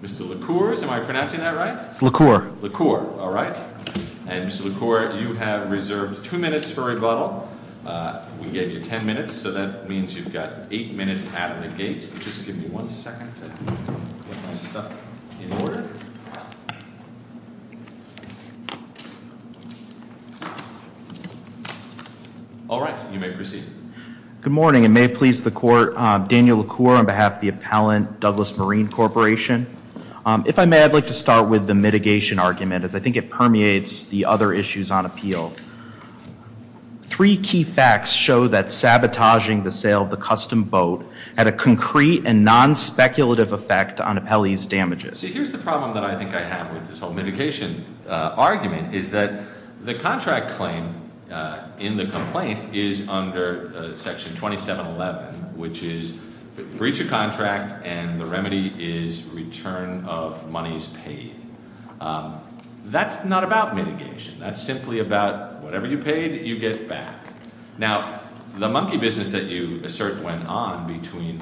Mr. LaCour, am I pronouncing that right? LaCour. LaCour, all right. And Mr. LaCour, you have reserved two minutes for rebuttal. We gave you ten minutes, so that means you've got eight minutes out of the gate. Just give me one second to get my stuff in order. All right, you may proceed. Good morning, and may it please the Court, Daniel LaCour on behalf of the appellant, Douglas Marine Corporation. If I may, I'd like to start with the mitigation argument, as I think it permeates the other issues on appeal. Three key facts show that sabotaging the sale of the custom boat had a concrete and non-speculative effect on appellee's damages. Here's the problem that I think I have with this whole mitigation argument, is that the contract claim in the complaint is under Section 2711, which is breach of contract and the remedy is return of monies paid. That's not about mitigation. That's simply about whatever you paid, you get back. Now, the monkey business that you assert went on between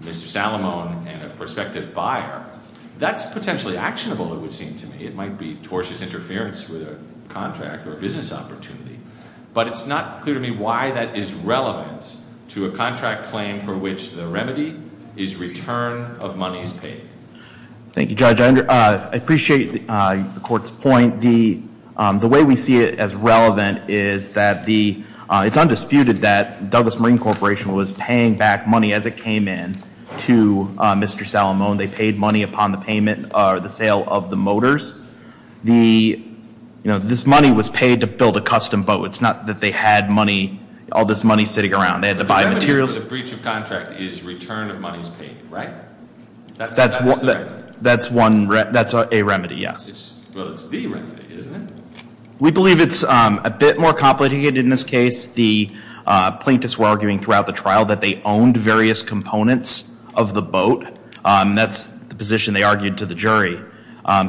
Mr. Salamone and a prospective buyer, that's potentially actionable, it would seem to me. It might be tortious interference with a contract or a business opportunity. But it's not clear to me why that is relevant to a contract claim for which the remedy is return of monies paid. Thank you, Judge. I appreciate the Court's point. The way we see it as relevant is that it's undisputed that Douglas Marine Corporation was paying back money as it came in to Mr. Salamone. They paid money upon the sale of the motors. This money was paid to build a custom boat. It's not that they had all this money sitting around. They had to buy materials. The remedy for the breach of contract is return of monies paid, right? That's a remedy, yes. Well, it's the remedy, isn't it? We believe it's a bit more complicated in this case. The plaintiffs were arguing throughout the trial that they owned various components of the boat. That's the position they argued to the jury.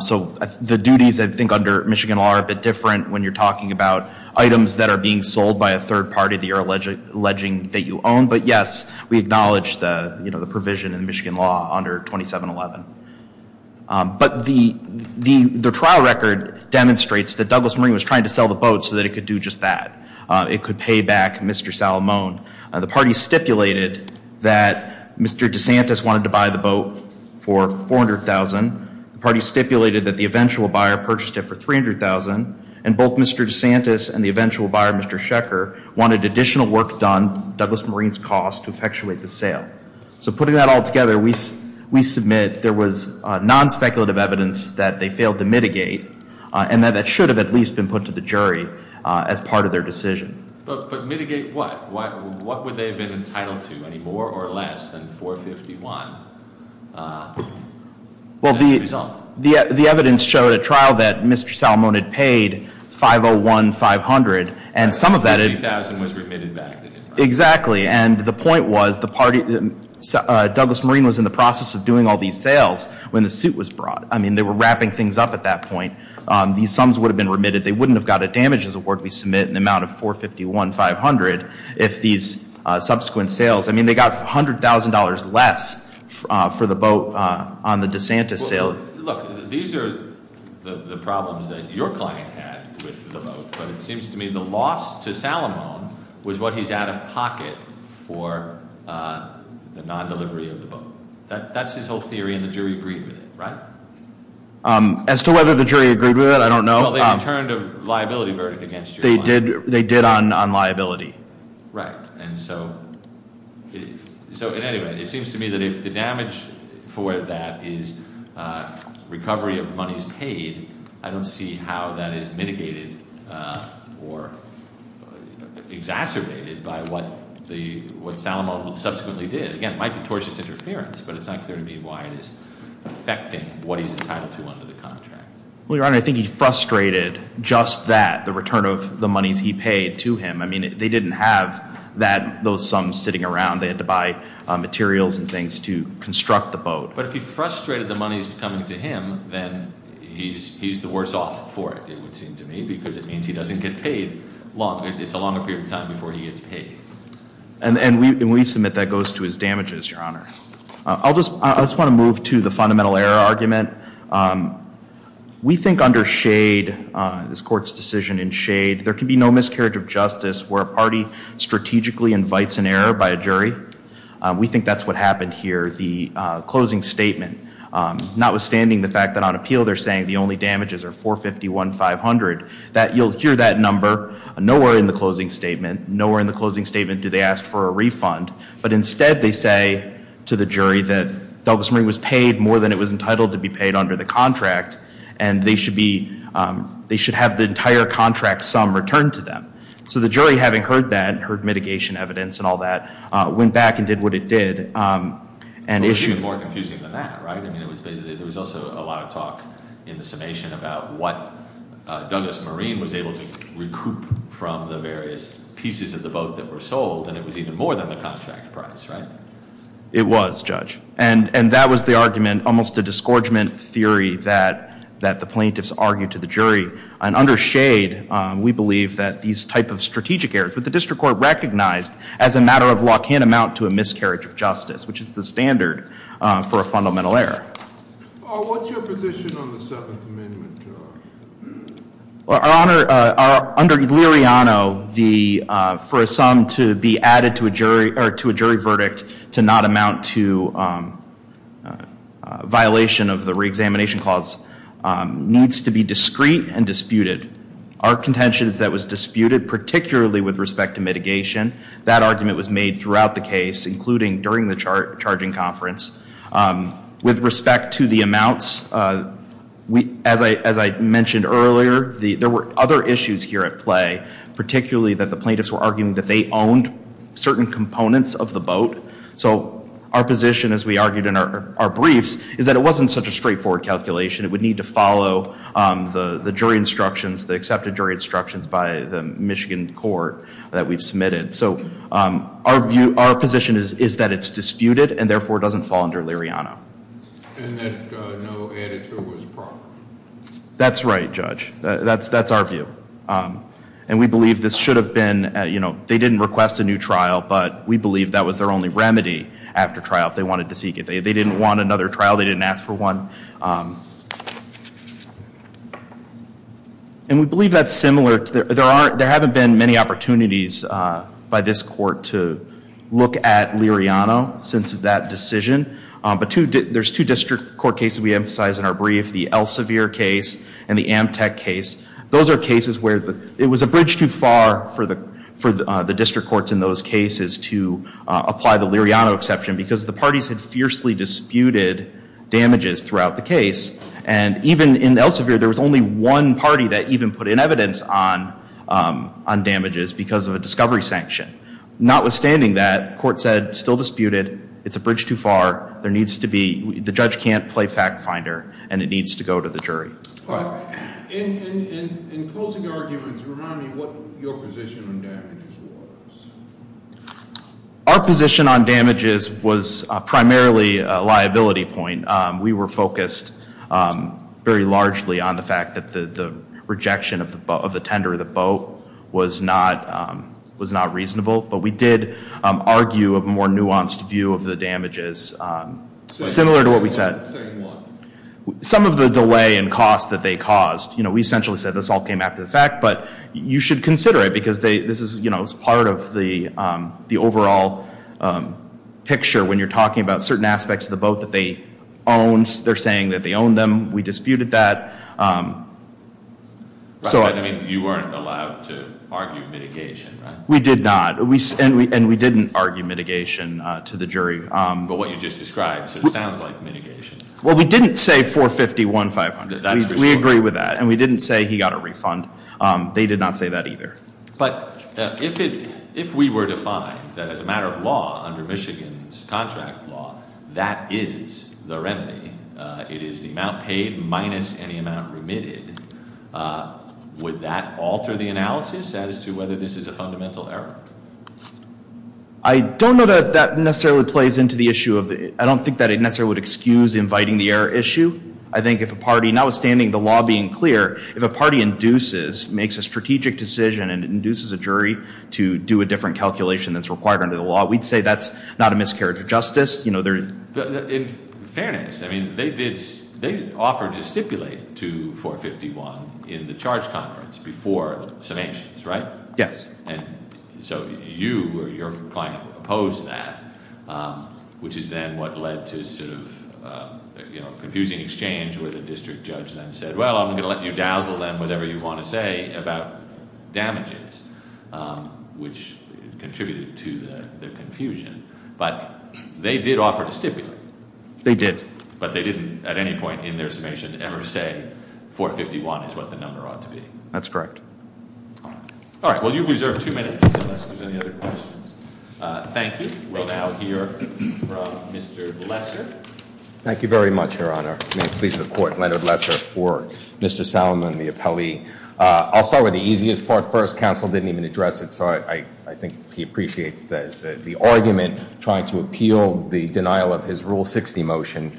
So the duties, I think, under Michigan law are a bit different when you're talking about items that are being sold by a third party that you're alleging that you own. But, yes, we acknowledge the provision in Michigan law under 2711. But the trial record demonstrates that Douglas Marine was trying to sell the boat so that it could do just that. It could pay back Mr. Salamone. The party stipulated that Mr. DeSantis wanted to buy the boat for $400,000. The party stipulated that the eventual buyer purchased it for $300,000. And both Mr. DeSantis and the eventual buyer, Mr. Shecker, wanted additional work done, Douglas Marine's cost, to effectuate the sale. So putting that all together, we submit there was non-speculative evidence that they failed to mitigate. And that should have at least been put to the jury as part of their decision. But mitigate what? What would they have been entitled to? Any more or less than $451,000 as a result? Well, the evidence showed at trial that Mr. Salamone had paid $501,500. And some of that- $50,000 was remitted back, didn't it? Exactly. And the point was, the party, Douglas Marine was in the process of doing all these sales when the suit was brought. I mean, they were wrapping things up at that point. These sums would have been remitted. They wouldn't have got a damages award. We submit an amount of $451,500 if these subsequent sales. I mean, they got $100,000 less for the boat on the DeSantis sale. Look, these are the problems that your client had with the boat. But it seems to me the loss to Salamone was what he's out of pocket for the non-delivery of the boat. That's his whole theory, and the jury agreed with it, right? As to whether the jury agreed with it, I don't know. Well, they returned a liability verdict against your client. They did on liability. Right. And so in any way, it seems to me that if the damage for that is recovery of monies paid, I don't see how that is mitigated or exacerbated by what Salamone subsequently did. Again, it might be tortious interference, but it's not clear to me why it is affecting what he's entitled to under the contract. Well, Your Honor, I think he frustrated just that, the return of the monies he paid to him. I mean, they didn't have those sums sitting around. They had to buy materials and things to construct the boat. But if he frustrated the monies coming to him, then he's the worse off for it, it would seem to me, because it means he doesn't get paid long. It's a longer period of time before he gets paid. And when we submit, that goes to his damages, Your Honor. I just want to move to the fundamental error argument. We think under Shade, this Court's decision in Shade, there can be no miscarriage of justice where a party strategically invites an error by a jury. We think that's what happened here, the closing statement. Notwithstanding the fact that on appeal they're saying the only damages are 451,500, you'll hear that number nowhere in the closing statement. Nowhere in the closing statement do they ask for a refund. But instead they say to the jury that Douglas Marine was paid more than it was entitled to be paid under the contract, and they should have the entire contract sum returned to them. So the jury, having heard that, heard mitigation evidence and all that, went back and did what it did. It was even more confusing than that, right? I mean, there was also a lot of talk in the summation about what Douglas Marine was able to recoup from the various pieces of the boat that were sold, and it was even more than the contract price, right? It was, Judge. And that was the argument, almost a disgorgement theory that the plaintiffs argued to the jury. And under Shade, we believe that these type of strategic errors that the district court recognized as a matter of law can amount to a miscarriage of justice, which is the standard for a fundamental error. What's your position on the Seventh Amendment? Well, under Liriano, for a sum to be added to a jury verdict to not amount to a violation of the reexamination clause needs to be discreet and disputed. Our contentions that was disputed, particularly with respect to mitigation, that argument was made throughout the case, including during the charging conference. With respect to the amounts, as I mentioned earlier, there were other issues here at play, particularly that the plaintiffs were arguing that they owned certain components of the boat. So our position, as we argued in our briefs, is that it wasn't such a straightforward calculation. It would need to follow the jury instructions, the accepted jury instructions by the Michigan court that we've submitted. So our position is that it's disputed and therefore doesn't fall under Liriano. And that no added to it was proper. That's right, Judge. That's our view. And we believe this should have been, you know, they didn't request a new trial, but we believe that was their only remedy after trial if they wanted to seek it. They didn't want another trial. They didn't ask for one. And we believe that's similar. There haven't been many opportunities by this court to look at Liriano since that decision. But there's two district court cases we emphasize in our brief, the Elsevier case and the Amtech case. Those are cases where it was a bridge too far for the district courts in those cases to apply the Liriano exception because the parties had fiercely disputed damages throughout the case. And even in Elsevier, there was only one party that even put in evidence on damages because of a discovery sanction. Notwithstanding that, the court said, still disputed, it's a bridge too far, there needs to be, the judge can't play fact finder, and it needs to go to the jury. In closing arguments, remind me what your position on damages was. Our position on damages was primarily a liability point. We were focused very largely on the fact that the rejection of the tender of the boat was not reasonable. But we did argue a more nuanced view of the damages, similar to what we said. Say what? Some of the delay in cost that they caused. We essentially said this all came after the fact, but you should consider it because this is part of the overall picture when you're talking about certain aspects of the boat that they owned. They're saying that they owned them. We disputed that. You weren't allowed to argue mitigation, right? We did not. And we didn't argue mitigation to the jury. But what you just described, so it sounds like mitigation. Well, we didn't say 451,500. We agree with that. And we didn't say he got a refund. They did not say that either. But if we were to find that as a matter of law under Michigan's contract law, that is the remedy. It is the amount paid minus any amount remitted. Would that alter the analysis as to whether this is a fundamental error? I don't know that that necessarily plays into the issue. I don't think that it necessarily would excuse inviting the error issue. I think if a party, notwithstanding the law being clear, if a party induces, makes a strategic decision and induces a jury to do a different calculation that's required under the law, we'd say that's not a miscarriage of justice. In fairness, they offered to stipulate to 451 in the charge conference before submissions, right? Yes. And so you or your client opposed that, which is then what led to sort of a confusing exchange where the district judge then said, well, I'm going to let you dazzle them with whatever you want to say about damages, which contributed to the confusion. But they did offer to stipulate. They did. But they didn't at any point in their submission ever say 451 is what the number ought to be. That's correct. All right. Well, you've reserved two minutes, unless there's any other questions. Thank you. We'll now hear from Mr. Lesser. Thank you very much, Your Honor. May it please the Court, Leonard Lesser for Mr. Salomon, the appellee. I'll start with the easiest part first. Counsel didn't even address it, so I think he appreciates the argument. Trying to appeal the denial of his Rule 60 motion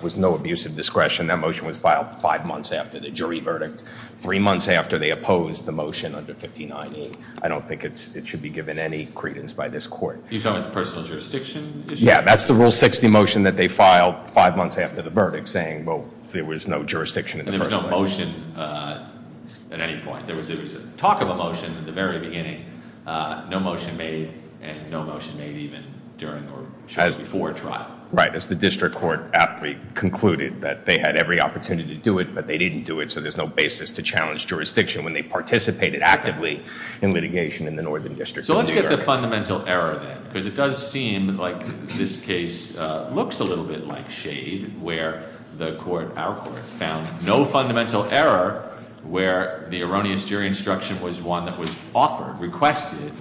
was no abuse of discretion. That motion was filed five months after the jury verdict, three months after they opposed the motion under 1590. I don't think it should be given any credence by this Court. You're talking about the personal jurisdiction issue? Yeah, that's the Rule 60 motion that they filed five months after the verdict, saying, well, there was no jurisdiction. And there was no motion at any point. There was talk of a motion at the very beginning, no motion made, and no motion made even during or shortly before trial. Right, as the district court appellee concluded that they had every opportunity to do it, but they didn't do it, so there's no basis to challenge jurisdiction when they participated actively in litigation in the Northern District of New York. So let's get to fundamental error then, because it does seem like this case looks a little bit like shade, where the Court, our Court, found no fundamental error where the erroneous jury instruction was one that was offered, requested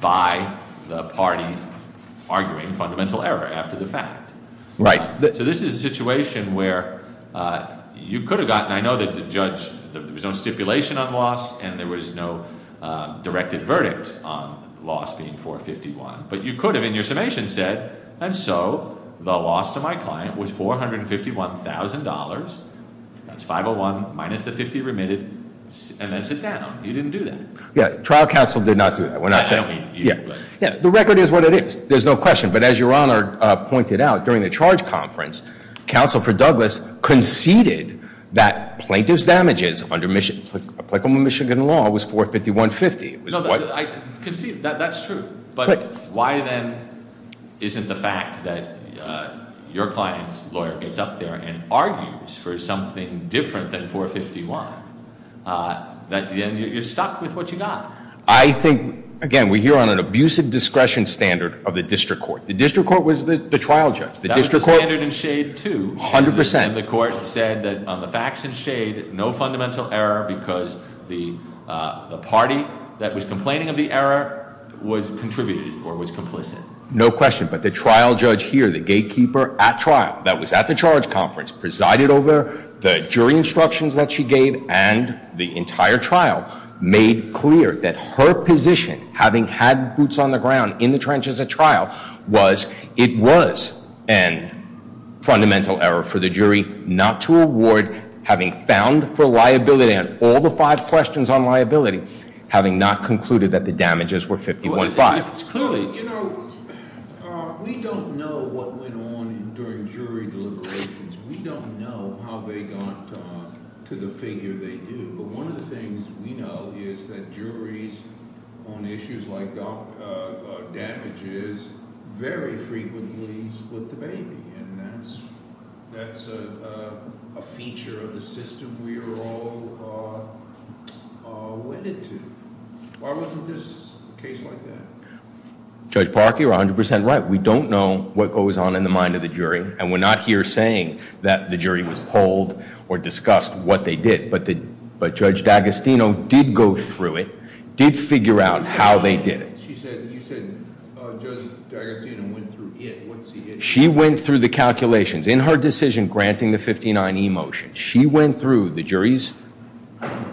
by the party arguing fundamental error after the fact. Right. So this is a situation where you could have gotten, I know that the judge, there was no stipulation on loss, and there was no directed verdict on loss being 451, but you could have in your summation said, and so the loss to my client was $451,000, that's 501 minus the 50 remitted, and then sit down. You didn't do that. Yeah, trial counsel did not do that. I don't mean you, but- Yeah, the record is what it is. There's no question, but as your Honor pointed out, during the charge conference, Counsel for Douglas conceded that plaintiff's damages under Michigan law was 451.50. No, I conceded, that's true. But why then isn't the fact that your client's lawyer gets up there and argues for something different than 451, that then you're stuck with what you got? I think, again, we're here on an abusive discretion standard of the district court. The district court was the trial judge. That was the standard in shade, too. 100%. The court said that on the facts in shade, no fundamental error because the party that was complaining of the error was contributed or was complicit. No question, but the trial judge here, the gatekeeper at trial, that was at the charge conference, presided over the jury instructions that she gave and the entire trial, made clear that her position, having had boots on the ground in the trenches at trial, was it was a fundamental error for the jury not to award, having found for liability, and all the five questions on liability, having not concluded that the damages were 51.5. You know, we don't know what went on during jury deliberations. We don't know how they got to the figure they do. But one of the things we know is that juries on issues like damages very frequently split the baby, and that's a feature of the system we are all wedded to. Why wasn't this case like that? Judge Parkey, you're 100% right. We don't know what goes on in the mind of the jury, and we're not here saying that the jury was polled or discussed what they did, but Judge D'Agostino did go through it, did figure out how they did it. She said, you said Judge D'Agostino went through it. What's the issue? She went through the calculations. In her decision granting the 59E motion, she went through the jury's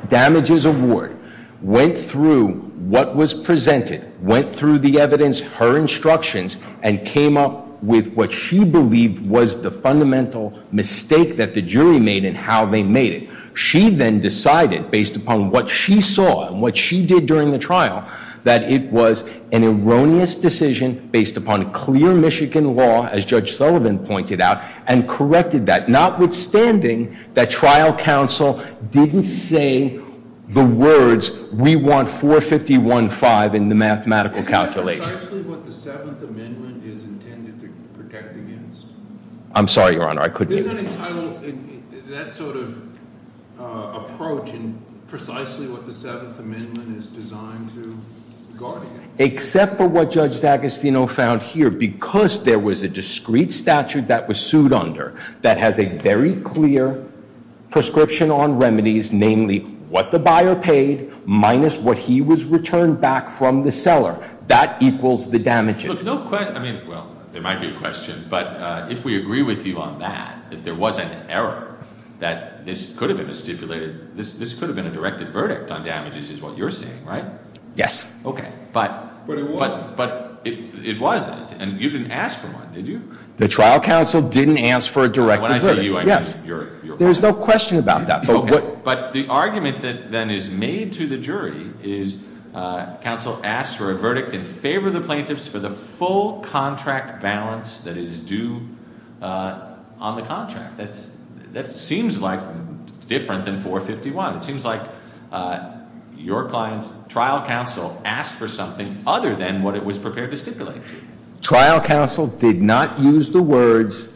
damages award, went through what was presented, went through the evidence, her instructions, and came up with what she believed was the fundamental mistake that the jury made and how they made it. She then decided, based upon what she saw and what she did during the trial, that it was an erroneous decision based upon clear Michigan law, as Judge Sullivan pointed out, and corrected that, notwithstanding that trial counsel didn't say the words, we want 451-5 in the mathematical calculation. Is that precisely what the Seventh Amendment is intended to protect against? I'm sorry, Your Honor. I couldn't hear you. Is that entitled, that sort of approach in precisely what the Seventh Amendment is designed to guard against? Except for what Judge D'Agostino found here, because there was a discrete statute that was sued under that has a very clear prescription on remedies, namely what the buyer paid minus what he was returned back from the seller. That equals the damages. Well, there might be a question. But if we agree with you on that, that there was an error, that this could have been a stipulated, this could have been a directed verdict on damages is what you're saying, right? Yes. Okay. But it wasn't. But it wasn't. And you didn't ask for one, did you? The trial counsel didn't ask for a directed verdict. When I say you, I mean your client. There's no question about that. Okay. But the argument that then is made to the jury is counsel asked for a verdict in favor of the plaintiffs for the full contract balance that is due on the contract. That seems like different than 451. It seems like your client's trial counsel asked for something other than what it was prepared to stipulate. Trial counsel did not use the words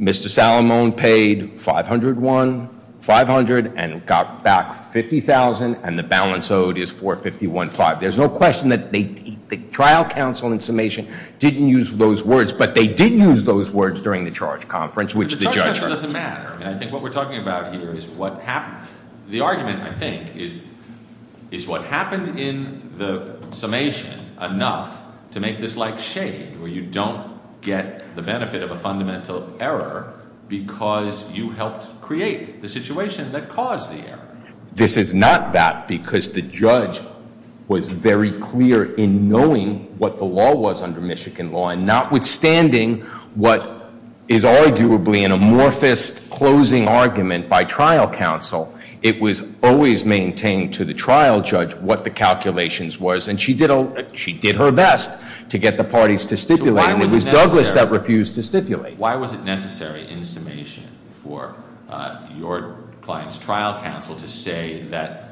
Mr. Salamone paid 501, 500, and got back 50,000, and the balance owed is 451,500. There's no question that the trial counsel in summation didn't use those words. But they did use those words during the charge conference. And the charge conference doesn't matter. I think what we're talking about here is what happened. The argument, I think, is what happened in the summation enough to make this like shade where you don't get the benefit of a fundamental error because you helped create the situation that caused the error. This is not that because the judge was very clear in knowing what the law was under Michigan law. And notwithstanding what is arguably an amorphous closing argument by trial counsel, it was always maintained to the trial judge what the calculations was. And she did her best to get the parties to stipulate. And it was Douglas that refused to stipulate. Why was it necessary in summation for your client's trial counsel to say that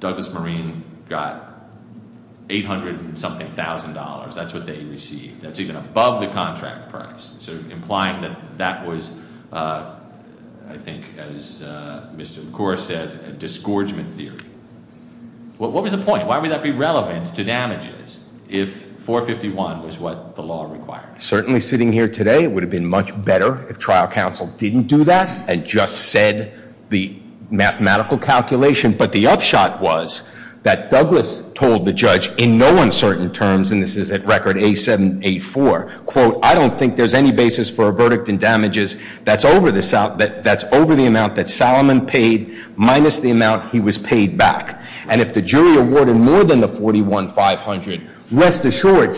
Douglas Marine got 800 and something thousand dollars. That's what they received. That's even above the contract price. So implying that that was, I think as Mr. Corr said, a disgorgement theory. What was the point? Why would that be relevant to damages if 451 was what the law required? Certainly sitting here today, it would have been much better if trial counsel didn't do that and just said the mathematical calculation. But the upshot was that Douglas told the judge in no uncertain terms, and this is at record A784, quote, I don't think there's any basis for a verdict in damages that's over the amount that Salomon paid minus the amount he was paid back. And if the jury awarded more than the 41500, rest assured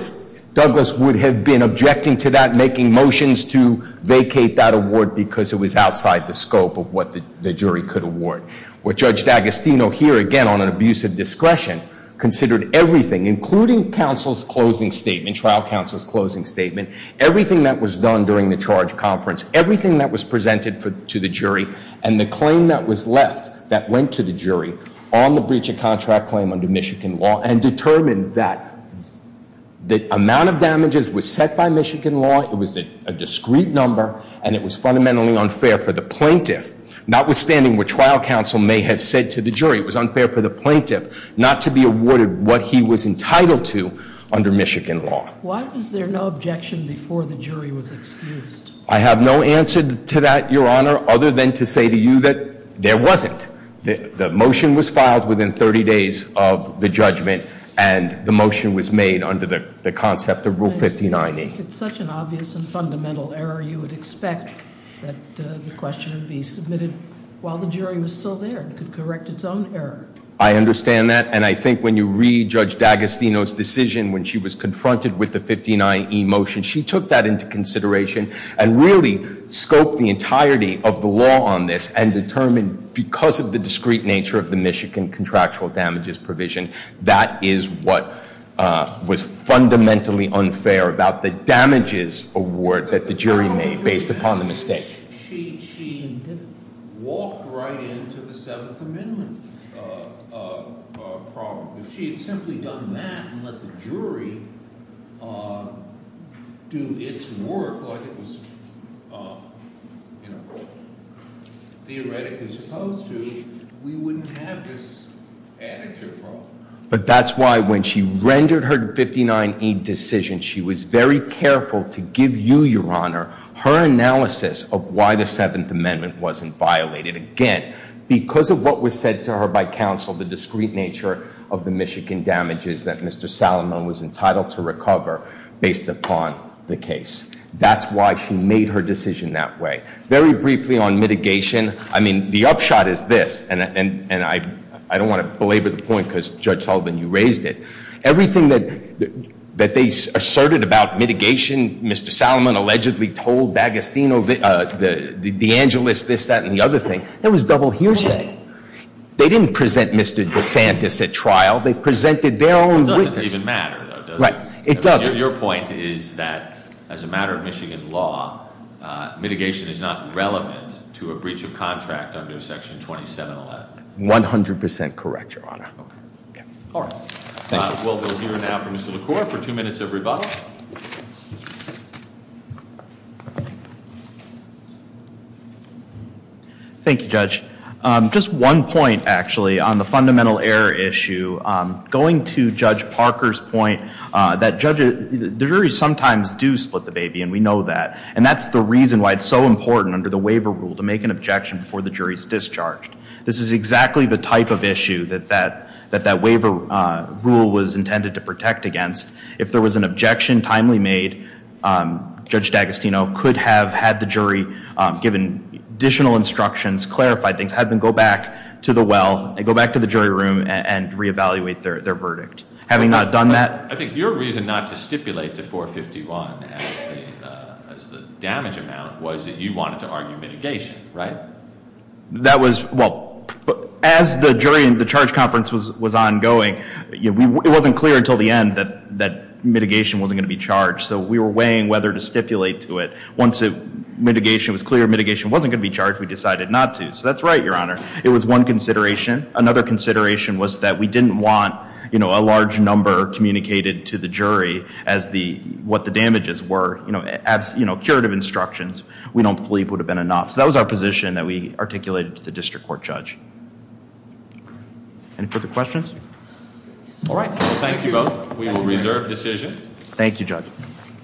Douglas would have been objecting to that, making motions to vacate that award because it was outside the scope of what the jury could award. What Judge D'Agostino, here again on an abuse of discretion, considered everything, including counsel's closing statement, trial counsel's closing statement, everything that was done during the charge conference, everything that was presented to the jury, and the claim that was left that went to the jury on the breach of contract claim under Michigan law, and determined that the amount of damages was set by Michigan law, it was a discrete number, and it was fundamentally unfair for the plaintiff, notwithstanding what trial counsel may have said to the jury. It was unfair for the plaintiff not to be awarded what he was entitled to under Michigan law. Why was there no objection before the jury was excused? I have no answer to that, Your Honor, other than to say to you that there wasn't. The motion was filed within 30 days of the judgment, and the motion was made under the concept of Rule 5090. It's such an obvious and fundamental error. You would expect that the question would be submitted while the jury was still there and could correct its own error. I understand that, and I think when you read Judge D'Agostino's decision when she was confronted with the 59E motion, she took that into consideration and really scoped the entirety of the law on this, and determined because of the discrete nature of the Michigan contractual damages provision, that is what was fundamentally unfair about the damages award that the jury made based upon the mistake. She walked right into the Seventh Amendment problem. If she had simply done that and let the jury do its work like it was theoretically supposed to, we wouldn't have this added to the problem. But that's why when she rendered her 59E decision, she was very careful to give you, Your Honor, her analysis of why the Seventh Amendment wasn't violated. Again, because of what was said to her by counsel, the discrete nature of the Michigan damages that Mr. Salomon was entitled to recover based upon the case. That's why she made her decision that way. Very briefly on mitigation, I mean, the upshot is this, and I don't want to belabor the point because, Judge Sullivan, you raised it. Everything that they asserted about mitigation, Mr. Salomon allegedly told D'Agostino, DeAngelis, this, that, and the other thing. That was double hearsay. They didn't present Mr. DeSantis at trial. They presented their own witness. It doesn't even matter, though, does it? Right. It doesn't. Your point is that as a matter of Michigan law, mitigation is not relevant to a breach of contract under Section 2711. 100% correct, Your Honor. Okay. All right. Thank you. We'll hear now from Mr. LaCour for two minutes of rebuttal. Thank you, Judge. Just one point, actually, on the fundamental error issue. Going to Judge Parker's point, the jury sometimes do split the baby, and we know that. And that's the reason why it's so important under the waiver rule to make an objection before the jury is discharged. This is exactly the type of issue that that waiver rule was intended to protect against. If there was an objection timely made, Judge D'Agostino could have had the jury given additional instructions, clarified things, had them go back to the well, go back to the jury room, and reevaluate their verdict. Having not done that- I think your reason not to stipulate to 451 as the damage amount was that you wanted to argue mitigation, right? That was- well, as the jury and the charge conference was ongoing, it wasn't clear until the end that mitigation wasn't going to be charged. So we were weighing whether to stipulate to it. Once mitigation was clear, mitigation wasn't going to be charged, we decided not to. So that's right, Your Honor. It was one consideration. Another consideration was that we didn't want a large number communicated to the jury as what the damages were. As curative instructions, we don't believe would have been enough. So that was our position that we articulated to the district court judge. Any further questions? All right. Thank you both. Thank you, Judge.